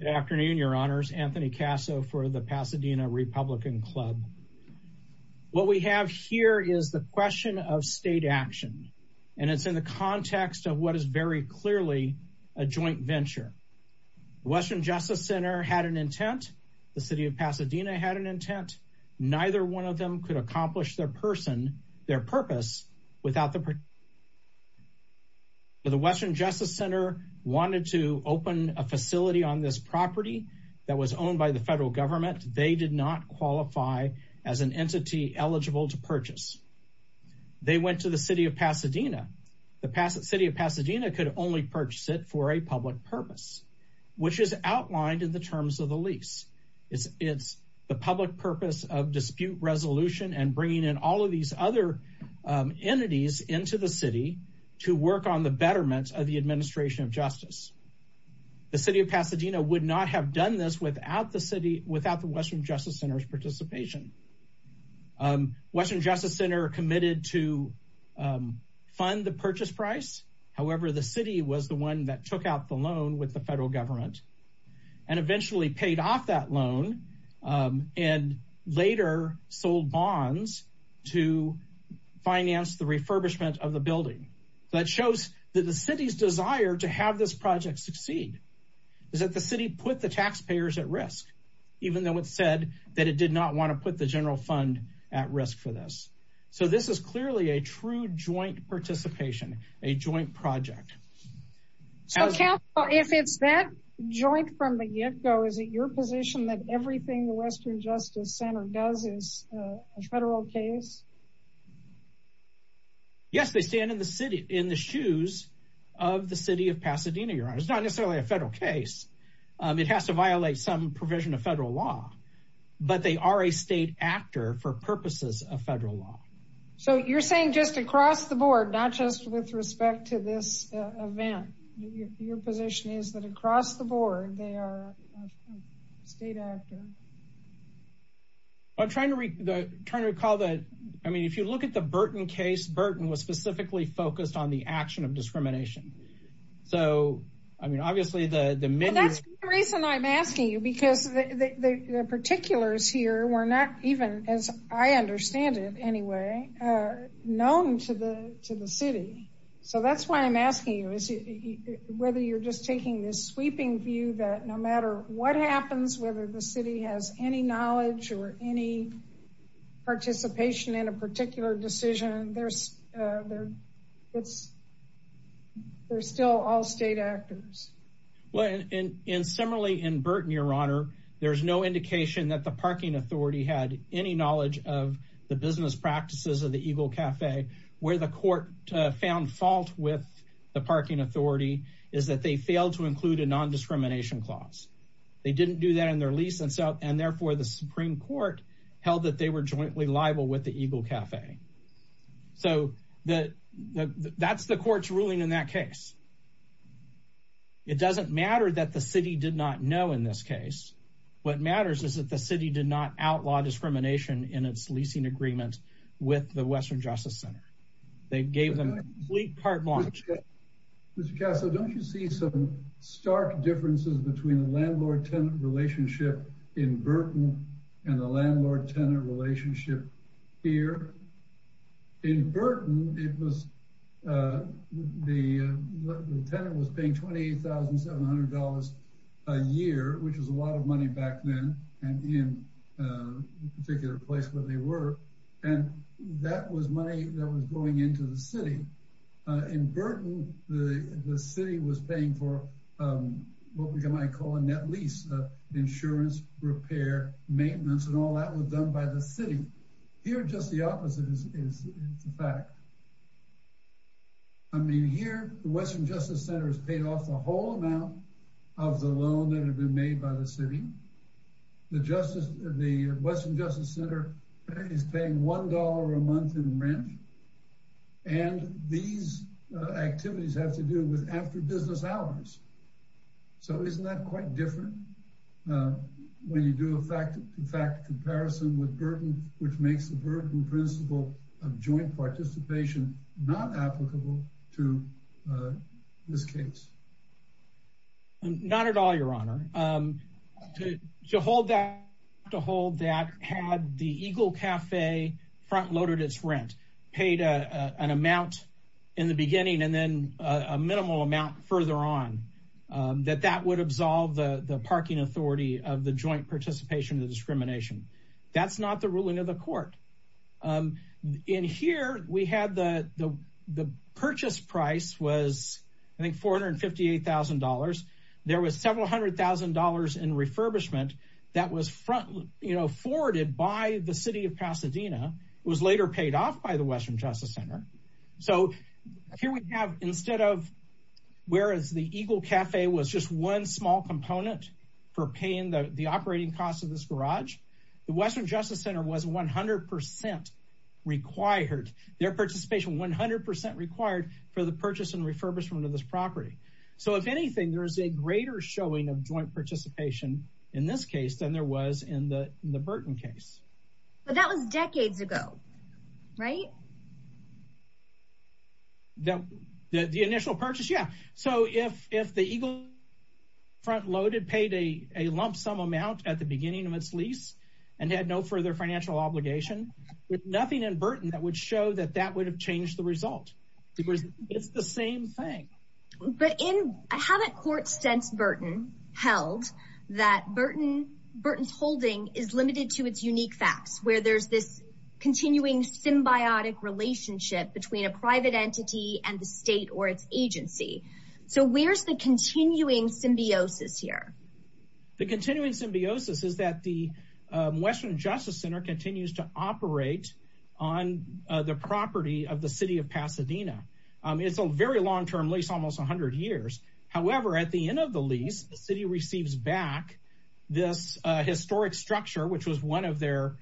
Good afternoon, your honors. Anthony Casso for the Pasadena Republican Club. What we have here is the question of state action, and it's in the context of what is very clearly a joint venture. Western Justice Center had an intent. The city of Pasadena had an intent. Neither one of them could accomplish their person, their purpose, without the Western Justice Center. The Western Justice Center wanted to open a facility on this property that was owned by the federal government. They did not qualify as an entity eligible to purchase. They went to the city of Pasadena. The city of Pasadena could only purchase it for a public purpose, which is outlined in the terms of the lease. It's the public purpose of dispute resolution and bringing in all of these other entities into the city to work on the betterment of the administration of justice. The city of Pasadena would not have done this without the city, without the Western Justice Center's participation. Western Justice Center committed to fund the purchase price. However, the city was the one that took out the loan with the federal government and eventually paid off that loan and later sold bonds to finance the refurbishment of the building. That shows that the city's desire to have this project succeed is that the city put the taxpayers at risk, even though it said that it did not want to put the general fund at risk for this. So this is clearly a true joint participation, a joint project. If it's that joint from the get-go, is it your position that everything the Western Justice Center does is a federal case? Yes, they stand in the city, in the shoes of the city of Pasadena, Your Honor. It's not necessarily a federal case. It has to violate some provision of federal law, but they are a state actor for purposes of federal law. So you're saying just across the board, not just with respect to this event, your position is that across the board they are a state actor? I'm trying to recall that, I mean, if you look at the Burton case, Burton was specifically focused on the action of discrimination. So, I mean, obviously the... That's the reason I'm anyway, known to the city. So that's why I'm asking you, whether you're just taking this sweeping view that no matter what happens, whether the city has any knowledge or any participation in a particular decision, they're still all state actors. Well, and similarly in Burton, Your Honor, there's no indication that the parking authority had any knowledge of the business practices of the Eagle Cafe, where the court found fault with the parking authority is that they failed to include a non-discrimination clause. They didn't do that in their lease, and therefore the Supreme Court held that they were jointly liable with the Eagle Cafe. So that's the court's ruling in that case. It doesn't matter that the city did not know in this case. What matters is that the city did not outlaw discrimination in its leasing agreement with the Western Justice Center. They gave them a complete part launch. Mr. Casso, don't you see some stark differences between the landlord-tenant relationship in Burton and the landlord-tenant relationship here? In Burton, it was... The tenant was paying $28,700 a year, which was a lot of money back then. And in a particular place where they were, and that was money that was going into the city. In Burton, the city was paying for what we might call a net lease of insurance, repair, maintenance, and all that was done by the city. Here, just the opposite is the fact. I mean, here, the Western Justice Center has paid off the whole amount of the loan that had been made by the city. The Western Justice Center is paying $1 a month in rent. And these activities have to do with after-business hours. So isn't that quite different when you do, in fact, a comparison with Burton, which makes the Burton principle of joint participation not applicable to this case? Not at all, Your Honor. To hold that had the Eagle Cafe front-loaded its rent, paid an amount in the beginning and then a minimal amount further on, that that would absolve the parking authority of the joint participation in the discrimination. That's the ruling of the court. In here, the purchase price was, I think, $458,000. There was several hundred thousand dollars in refurbishment that was forwarded by the city of Pasadena. It was later paid off by the Western Justice Center. So here we have, instead of, whereas the Eagle Cafe was just one small component for paying the operating costs of this garage, the Western Justice Center was 100 percent required, their participation 100 percent required for the purchase and refurbishment of this property. So if anything, there is a greater showing of joint participation in this case than there was in the Burton case. But that was decades ago, right? The initial purchase, yeah. So if the Eagle front-loaded paid a lump sum amount at the and had no further financial obligation, there's nothing in Burton that would show that that would have changed the result. Because it's the same thing. But haven't courts since Burton held that Burton's holding is limited to its unique facts, where there's this continuing symbiotic relationship between a private entity and the state or its agency? So where's the continuing symbiosis here? The continuing symbiosis is that the Western Justice Center continues to operate on the property of the city of Pasadena. It's a very long-term lease, almost 100 years. However, at the end of the lease, the city receives back this historic structure, which was one of their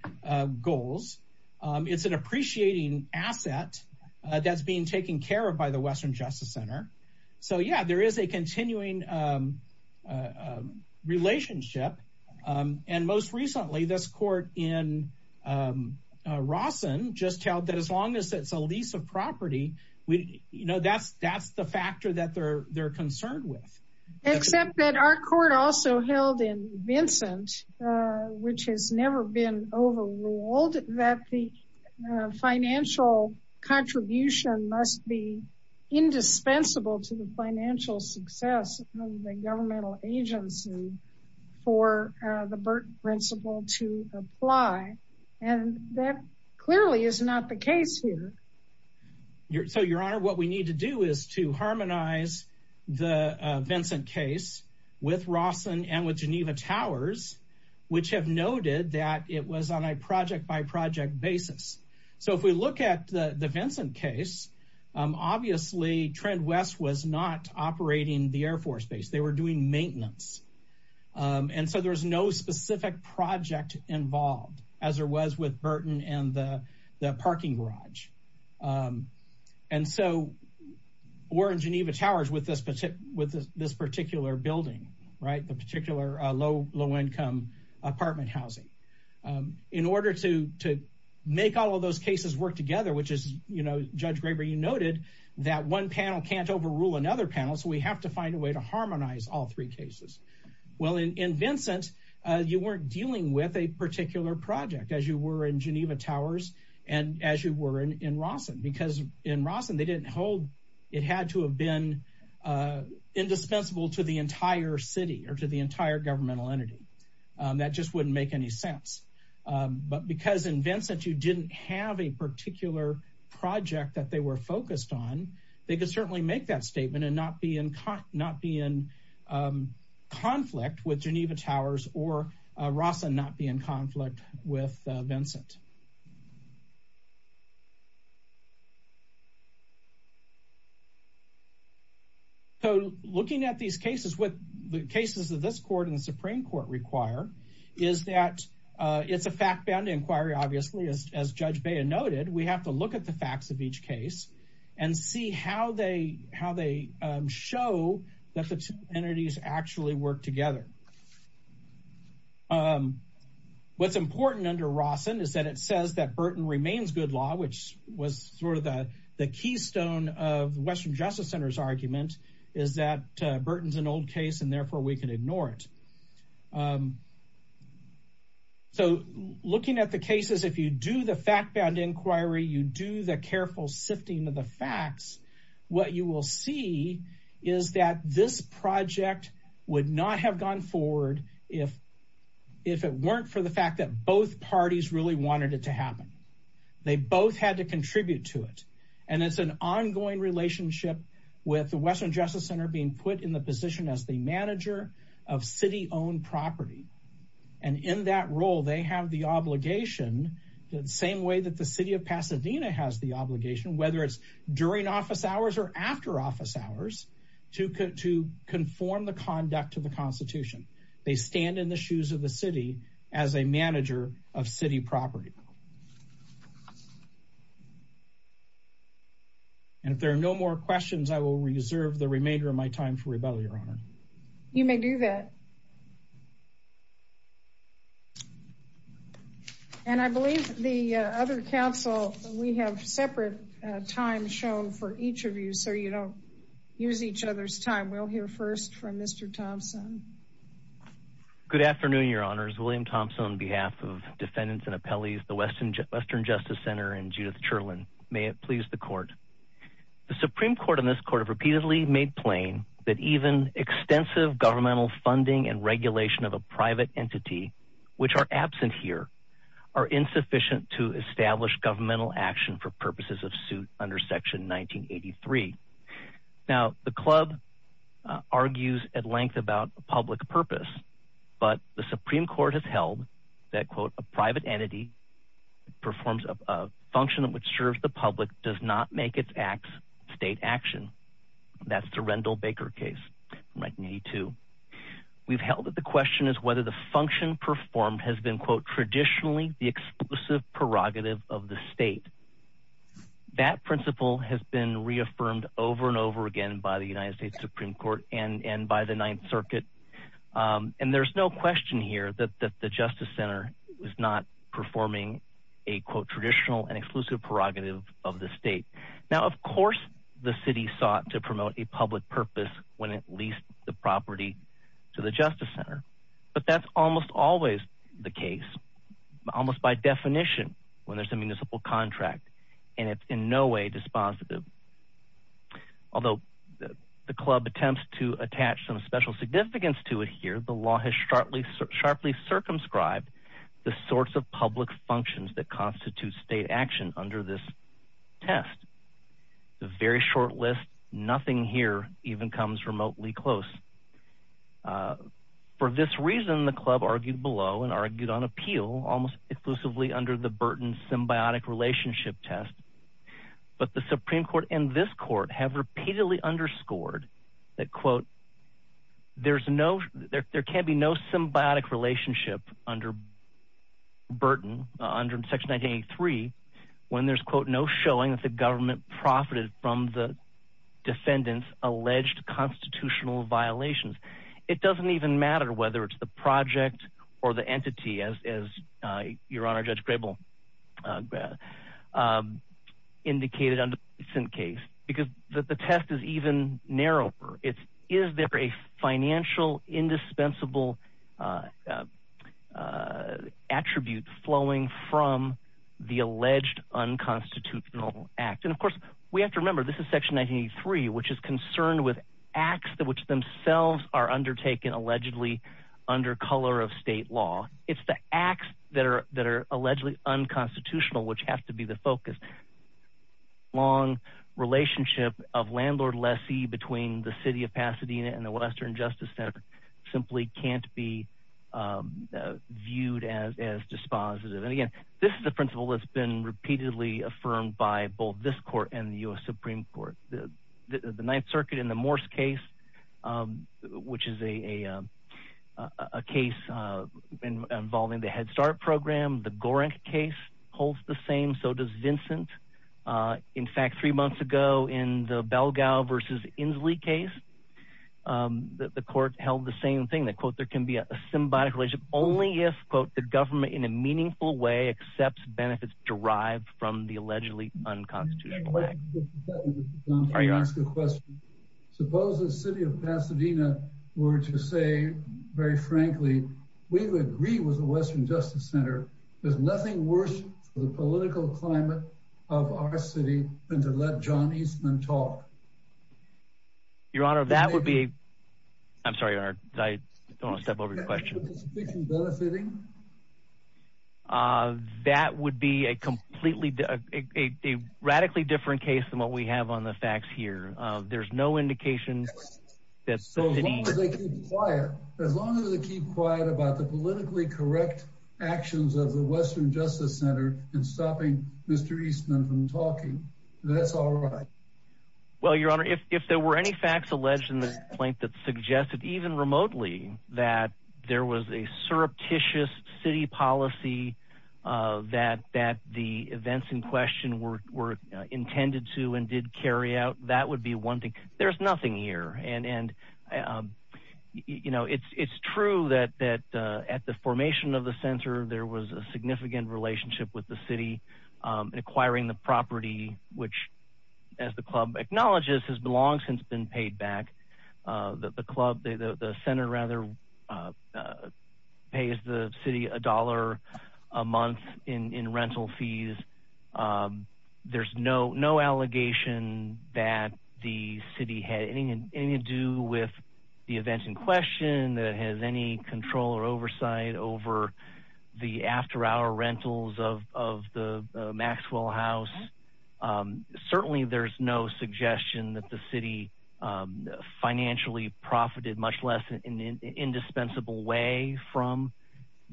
goals. It's an appreciating asset that's being taken care of by the Western Justice Center. So yeah, there is a continuing relationship. And most recently, this court in Rawson just held that as long as it's a lease of property, that's the factor that they're concerned with. Except that our court also held in Vincent, which has never been overruled, that the financial contribution must be indispensable to the financial success of the governmental agency for the Burton principle to apply. And that clearly is not the case here. So, Your Honor, what we need to do is to harmonize the Vincent case with Rawson and with Geneva Towers, which have noted that it was on a project-by-project basis. So if we look at the Vincent case, obviously Trend West was not operating the Air Force Base. They were doing maintenance. And so there's no specific project involved, as there was with Burton and the parking garage. And so we're in Geneva Towers with this particular building, the particular low-income apartment housing. In order to make all of those cases work together, which is, Judge Graber, you noted that one panel can't overrule another panel, so we have to find a way to harmonize all three cases. Well, in Vincent, you weren't dealing with a particular project, as you were in Geneva Towers and as you were in Rawson. Because in Rawson, they didn't hold, it had to have been indispensable to the entire city or to the entire governmental entity. That just wouldn't make any sense. But because in Vincent, you didn't have a particular project that they were focused on, they could certainly make that or Rawson not be in conflict with Vincent. So looking at these cases, what the cases of this court and the Supreme Court require is that it's a fact-bound inquiry, obviously, as Judge Baya noted. We have to look at the facts of each case and see how they show that the two entities actually work together. Um, what's important under Rawson is that it says that Burton remains good law, which was sort of the the keystone of the Western Justice Center's argument, is that Burton's an old case and therefore we can ignore it. So looking at the cases, if you do the fact-bound inquiry, you do the careful sifting of the facts, what you will see is that this project would not have gone forward if it weren't for the fact that both parties really wanted it to happen. They both had to contribute to it. And it's an ongoing relationship with the Western Justice Center being put in the position as the manager of city-owned property. And in that role, they have the obligation, the same way that the after-office hours, to conform the conduct of the Constitution. They stand in the shoes of the city as a manager of city property. And if there are no more questions, I will reserve the remainder of my time for rebuttal, Your Honor. You may do that. And I believe the other counsel, we have separate times shown for each of you, so you don't use each other's time. We'll hear first from Mr. Thompson. Good afternoon, Your Honors. William Thompson on behalf of defendants and appellees, the Western Justice Center and Judith Cherland. May it please the Court. The Supreme Court and this Court have repeatedly made plain that even extensive governmental funding and regulation of a private entity, which are absent here, are insufficient to establish governmental action for purposes of suit under Section 1983. Now, the club argues at length about public purpose, but the Supreme Court has held that, quote, a private entity performs a function which serves the public, does not make its acts from 1982. We've held that the question is whether the function performed has been, quote, traditionally the exclusive prerogative of the state. That principle has been reaffirmed over and over again by the United States Supreme Court and by the Ninth Circuit. And there's no question here that the Justice Center was not performing a, quote, traditional and exclusive prerogative of the state. Now, of course, the city sought to promote a public purpose when it leased the property to the Justice Center, but that's almost always the case, almost by definition, when there's a municipal contract, and it's in no way dispositive. Although the club attempts to attach some special significance to it here, the law has sharply circumscribed the sorts of public functions that constitute state action under this test. It's a very short list. Nothing here even comes remotely close. For this reason, the club argued below and argued on appeal almost exclusively under the Burton Symbiotic Relationship Test, but the Supreme Court and this court have repeatedly underscored that, quote, there can be no symbiotic relationship under Burton, under Section 1983, when there's, quote, no showing that the government profited from the defendant's alleged constitutional violations. It doesn't even matter whether it's the project or the entity, as your Honor Judge Grable indicated in the case, because the test is even narrower. It's, is there a financial indispensable attribute flowing from the alleged unconstitutional act? And of course, we have to remember, this is Section 1983, which is concerned with acts which themselves are undertaken allegedly under color of state law. It's the acts that are allegedly unconstitutional which have to be the focus. Long relationship of landlord-lessee between the City of Pasadena and the Western Justice Center simply can't be viewed as dispositive. And again, this is a principle that's been repeatedly affirmed by both this court and the U.S. Supreme Court. The Ninth Circuit in the Morse case, which is a case involving the Head Start program, the Gorenk case holds the same. So does Vincent. In fact, three months ago in the Belgao versus Inslee case, the court held the same thing that, quote, there can be a symbiotic relationship only if, quote, the government in a meaningful way accepts benefits derived from the allegedly unconstitutional act. Suppose the City of Pasadena were to say, very frankly, we would agree with the Western Justice Center. There's nothing worse for the political climate of our city than to let John Eastman talk. Your Honor, that would be, I'm sorry, I don't want to step over your question. That would be a completely, a radically different case than what we have on the facts here. There's no indication that. As long as they keep quiet, as long as they keep quiet about the politically correct actions of the Western Justice Center in stopping Mr. Eastman from talking, that's all right. Well, Your Honor, if there were any facts alleged in the complaint that suggested, even remotely, that there was a surreptitious city policy that the events in question were intended to and did carry out, that would be one thing. There's nothing here. And, you know, it's true that at the formation of the center, there was a significant relationship with the city in acquiring the property, which, as the club acknowledges, has long since been paid back. The club, the center, rather, pays the city a dollar a month in rental fees. There's no allegation that the city had anything to do with the events in question, that it has any control or oversight over the after-hour rentals of the Maxwell House. Certainly, there's no suggestion that the city financially profited, much less in an indispensable way, from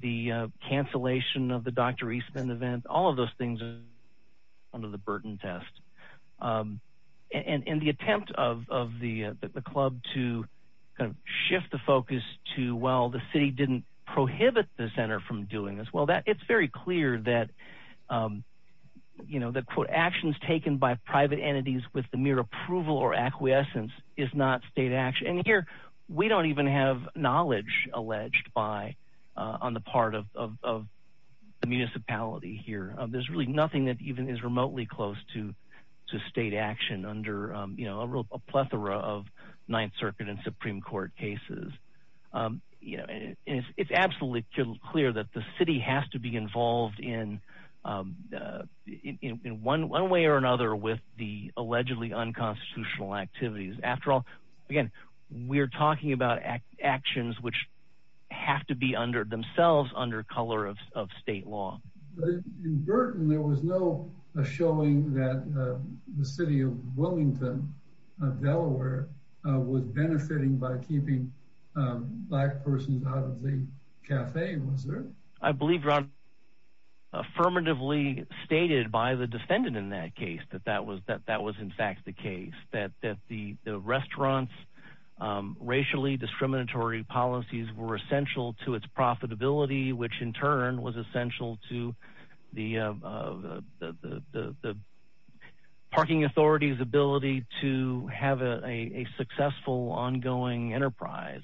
the cancellation of the Dr. Eastman event. All of those things are under the Burton test. And the attempt of the club to shift the focus to, well, the city didn't prohibit the center from doing this, well, it's very clear that, you know, that, quote, actions taken by private entities with the mere approval or acquiescence is not state action. And here, we don't even have knowledge alleged on the part of the municipality here. There's really nothing that even is remotely close to state action under, you know, a plethora of Ninth Circuit and Supreme Court cases. You know, it's absolutely clear that the city has to be involved in one way or another with the allegedly unconstitutional activities. After all, again, we're talking about actions which have to be themselves under color of state law. In Burton, there was no showing that the city of Wilmington, Delaware, was benefiting by keeping black persons out of the cafe, was there? I believe, Ron, affirmatively stated by the defendant in that case that that was in fact the case, that the restaurant's racially discriminatory policies were essential to its profitability, which in turn was essential to the parking authority's ability to have a successful ongoing enterprise.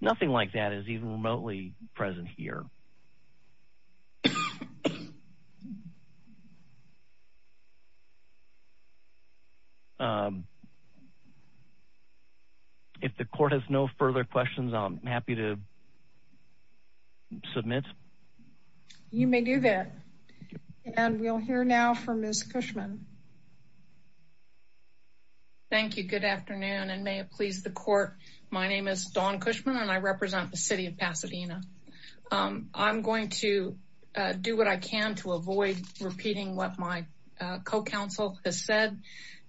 Nothing like that is even remotely present here. If the court has no further questions, I'm happy to submit. You may do that. And we'll hear now from Ms. Cushman. Thank you. Good afternoon, and may it please the court. My name is Dawn Cushman, and I represent the city of Pasadena. I'm going to do what I can to avoid repeating what my co-counsel has said,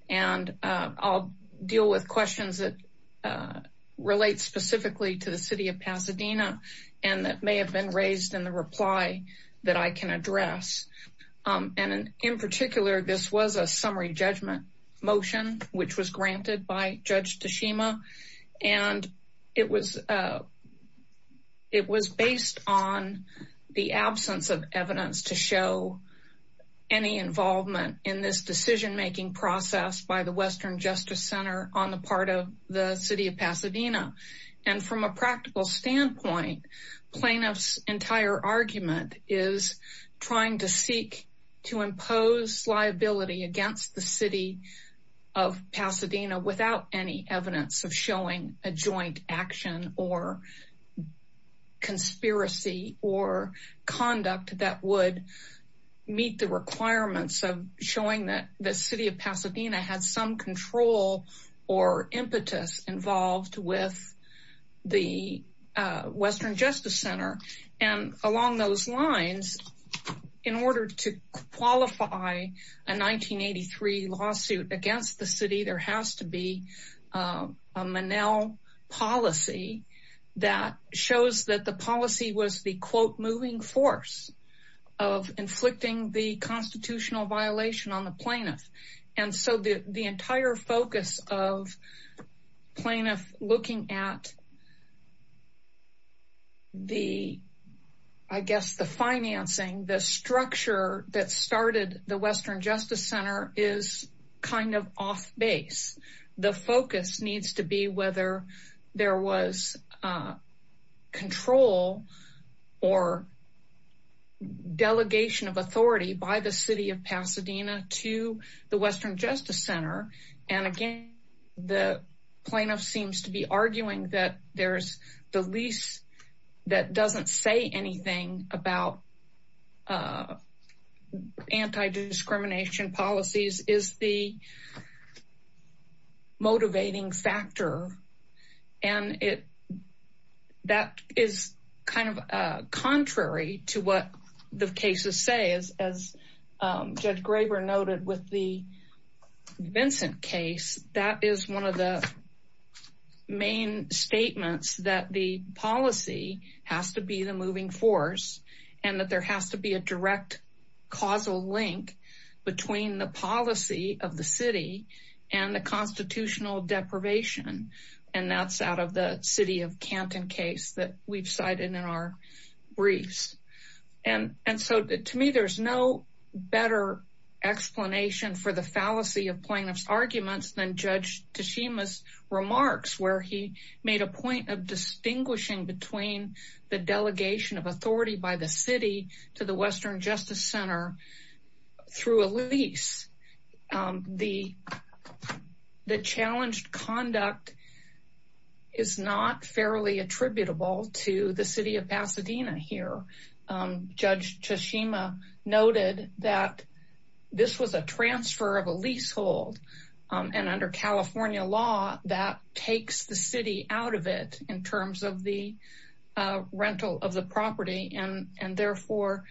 and I'll deal with questions that relate specifically to the city of Pasadena and that may have been raised in the reply that I can address. In particular, this was a summary of the case. It was based on the absence of evidence to show any involvement in this decision-making process by the Western Justice Center on the part of the city of Pasadena. And from a practical standpoint, plaintiff's entire argument is trying to seek to impose liability against the city of Pasadena without any evidence of showing a joint action or conspiracy or conduct that would meet the requirements of showing that the city of Pasadena had some control or impetus involved with the Western Justice Center. And along those lines, in order to qualify a 1983 lawsuit against the city, there has to be a Monell policy that shows that the policy was the quote moving force of inflicting the constitutional violation on the plaintiff. And so the entire focus of plaintiff looking at the, I guess, the financing, the structure that started the Western Justice Center is kind of off base. The focus needs to be whether there was control or delegation of authority by the city of Pasadena to the Western Justice Center. And again, the plaintiff seems to be arguing that there's the lease that doesn't say anything about anti-discrimination policies is the motivating factor. And that is kind of contrary to what the cases say. As Judge Graber noted with the Vincent case, that is one of the main statements that the policy has to be the moving force and that there has to be a direct causal link between the policy of the city and the constitutional deprivation. And that's out the city of Canton case that we've cited in our briefs. And so to me, there's no better explanation for the fallacy of plaintiff's arguments than Judge Teshima's remarks where he made a point of distinguishing between the delegation of authority by the city to the not fairly attributable to the city of Pasadena here. Judge Teshima noted that this was a transfer of a leasehold and under California law that takes the city out of it in terms of the rental of the property and therefore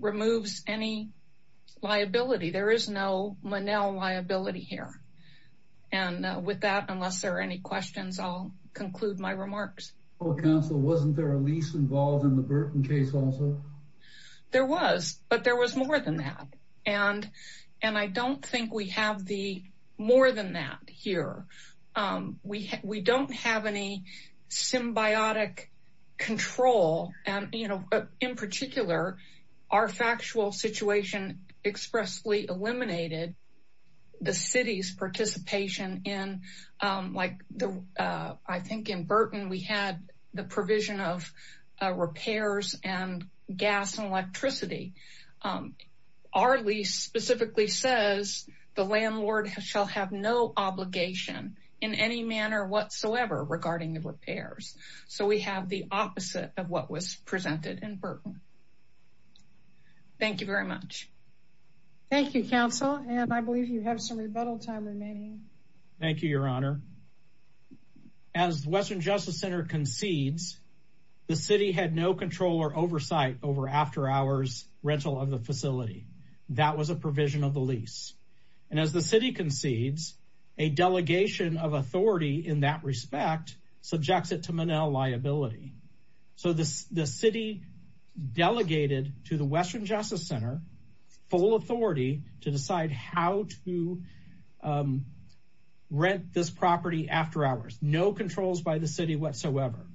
removes any liability. There is no any questions. I'll conclude my remarks. Council, wasn't there a lease involved in the Burton case also? There was, but there was more than that. And I don't think we have the more than that here. We don't have any symbiotic control. And in particular, our factual situation expressly eliminated the city's participation in like the, I think in Burton, we had the provision of repairs and gas and electricity. Our lease specifically says the landlord shall have no obligation in any manner whatsoever regarding the repairs. So we have the opposite of what presented in Burton. Thank you very much. Thank you, Council. And I believe you have some rebuttal time remaining. Thank you, Your Honor. As Western Justice Center concedes, the city had no control or oversight over after hours rental of the facility. That was a provision of the lease. And as the city concedes, a delegation of authority in that respect subjects it to Manel liability. So the city delegated to the Western Justice Center full authority to decide how to rent this property after hours. No controls by the city whatsoever.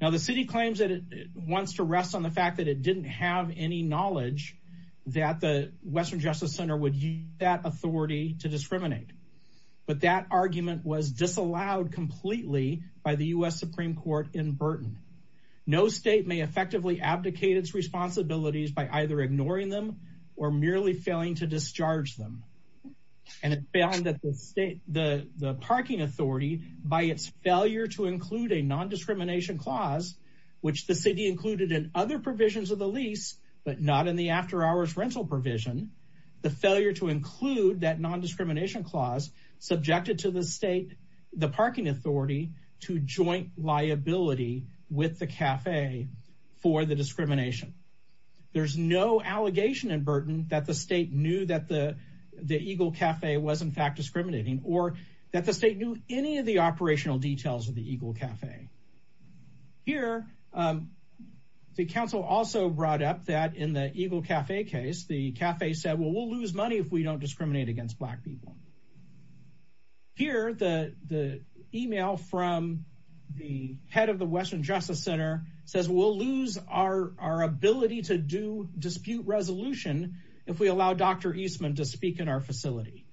Now the city claims that it wants to rest on the fact that it didn't have any knowledge that the Western Justice Center would use that authority to discriminate. But that argument was disallowed completely by the U.S. Supreme Court in Burton. No state may effectively abdicate its responsibilities by either ignoring them or merely failing to discharge them. And it found that the state, the parking authority by its failure to include a non-discrimination clause, which the city included in other provisions of the lease, but not in the after hours rental provision, the failure to include that non-discrimination clause subjected to the state, the parking authority to joint liability with the cafe for the discrimination. There's no allegation in Burton that the state knew that the Eagle Cafe was in fact discriminating or that the state knew any of the operational details of the Eagle Cafe. Here, the council also brought up that in the Eagle Cafe case, the cafe said, well, we'll lose money if we don't hear the email from the head of the Western Justice Center says, we'll lose our ability to do dispute resolution if we allow Dr. Eastman to speak in our facility.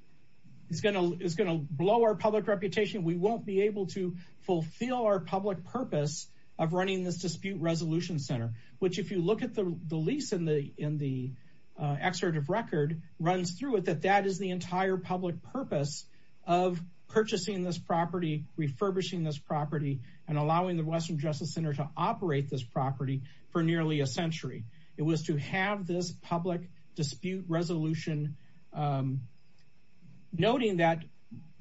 It's going to blow our public reputation. We won't be able to fulfill our public purpose of running this dispute resolution center, which if you look at the lease in the excerpt of record runs through it, that is the entire public purpose of purchasing this property, refurbishing this property and allowing the Western Justice Center to operate this property for nearly a century. It was to have this public dispute resolution, noting that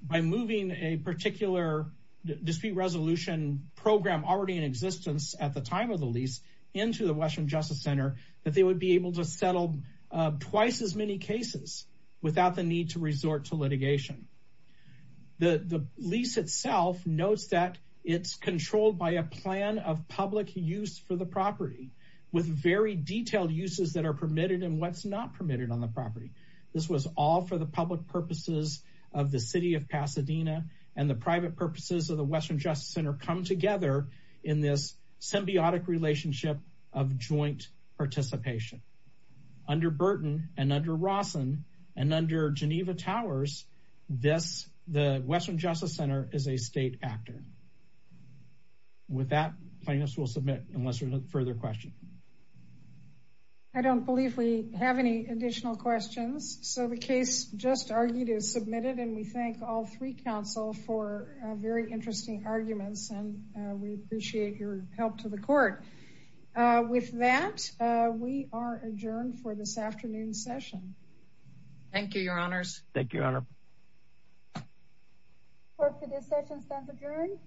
by moving a particular dispute resolution program already in existence at the time of the lease into the Western Justice Center, that they would be able to settle twice as many cases without the need to resort to litigation. The lease itself notes that it's controlled by a plan of public use for the property with very detailed uses that are permitted and what's not permitted on the property. This was all for the public purposes of the city of Pasadena and the private purposes of the Western Justice Center come together in this symbiotic relationship of joint participation. Under Burton and under Rawson and under Geneva Towers, the Western Justice Center is a state actor. With that, plaintiffs will submit unless there's a further question. I don't believe we have any additional questions, so the case just argued is submitted and we thank all three counsel for very interesting arguments and we appreciate your help to the court. With that, we are adjourned for this afternoon's session. Thank you, your honors. Thank you, your honor. Court for this session stands adjourned.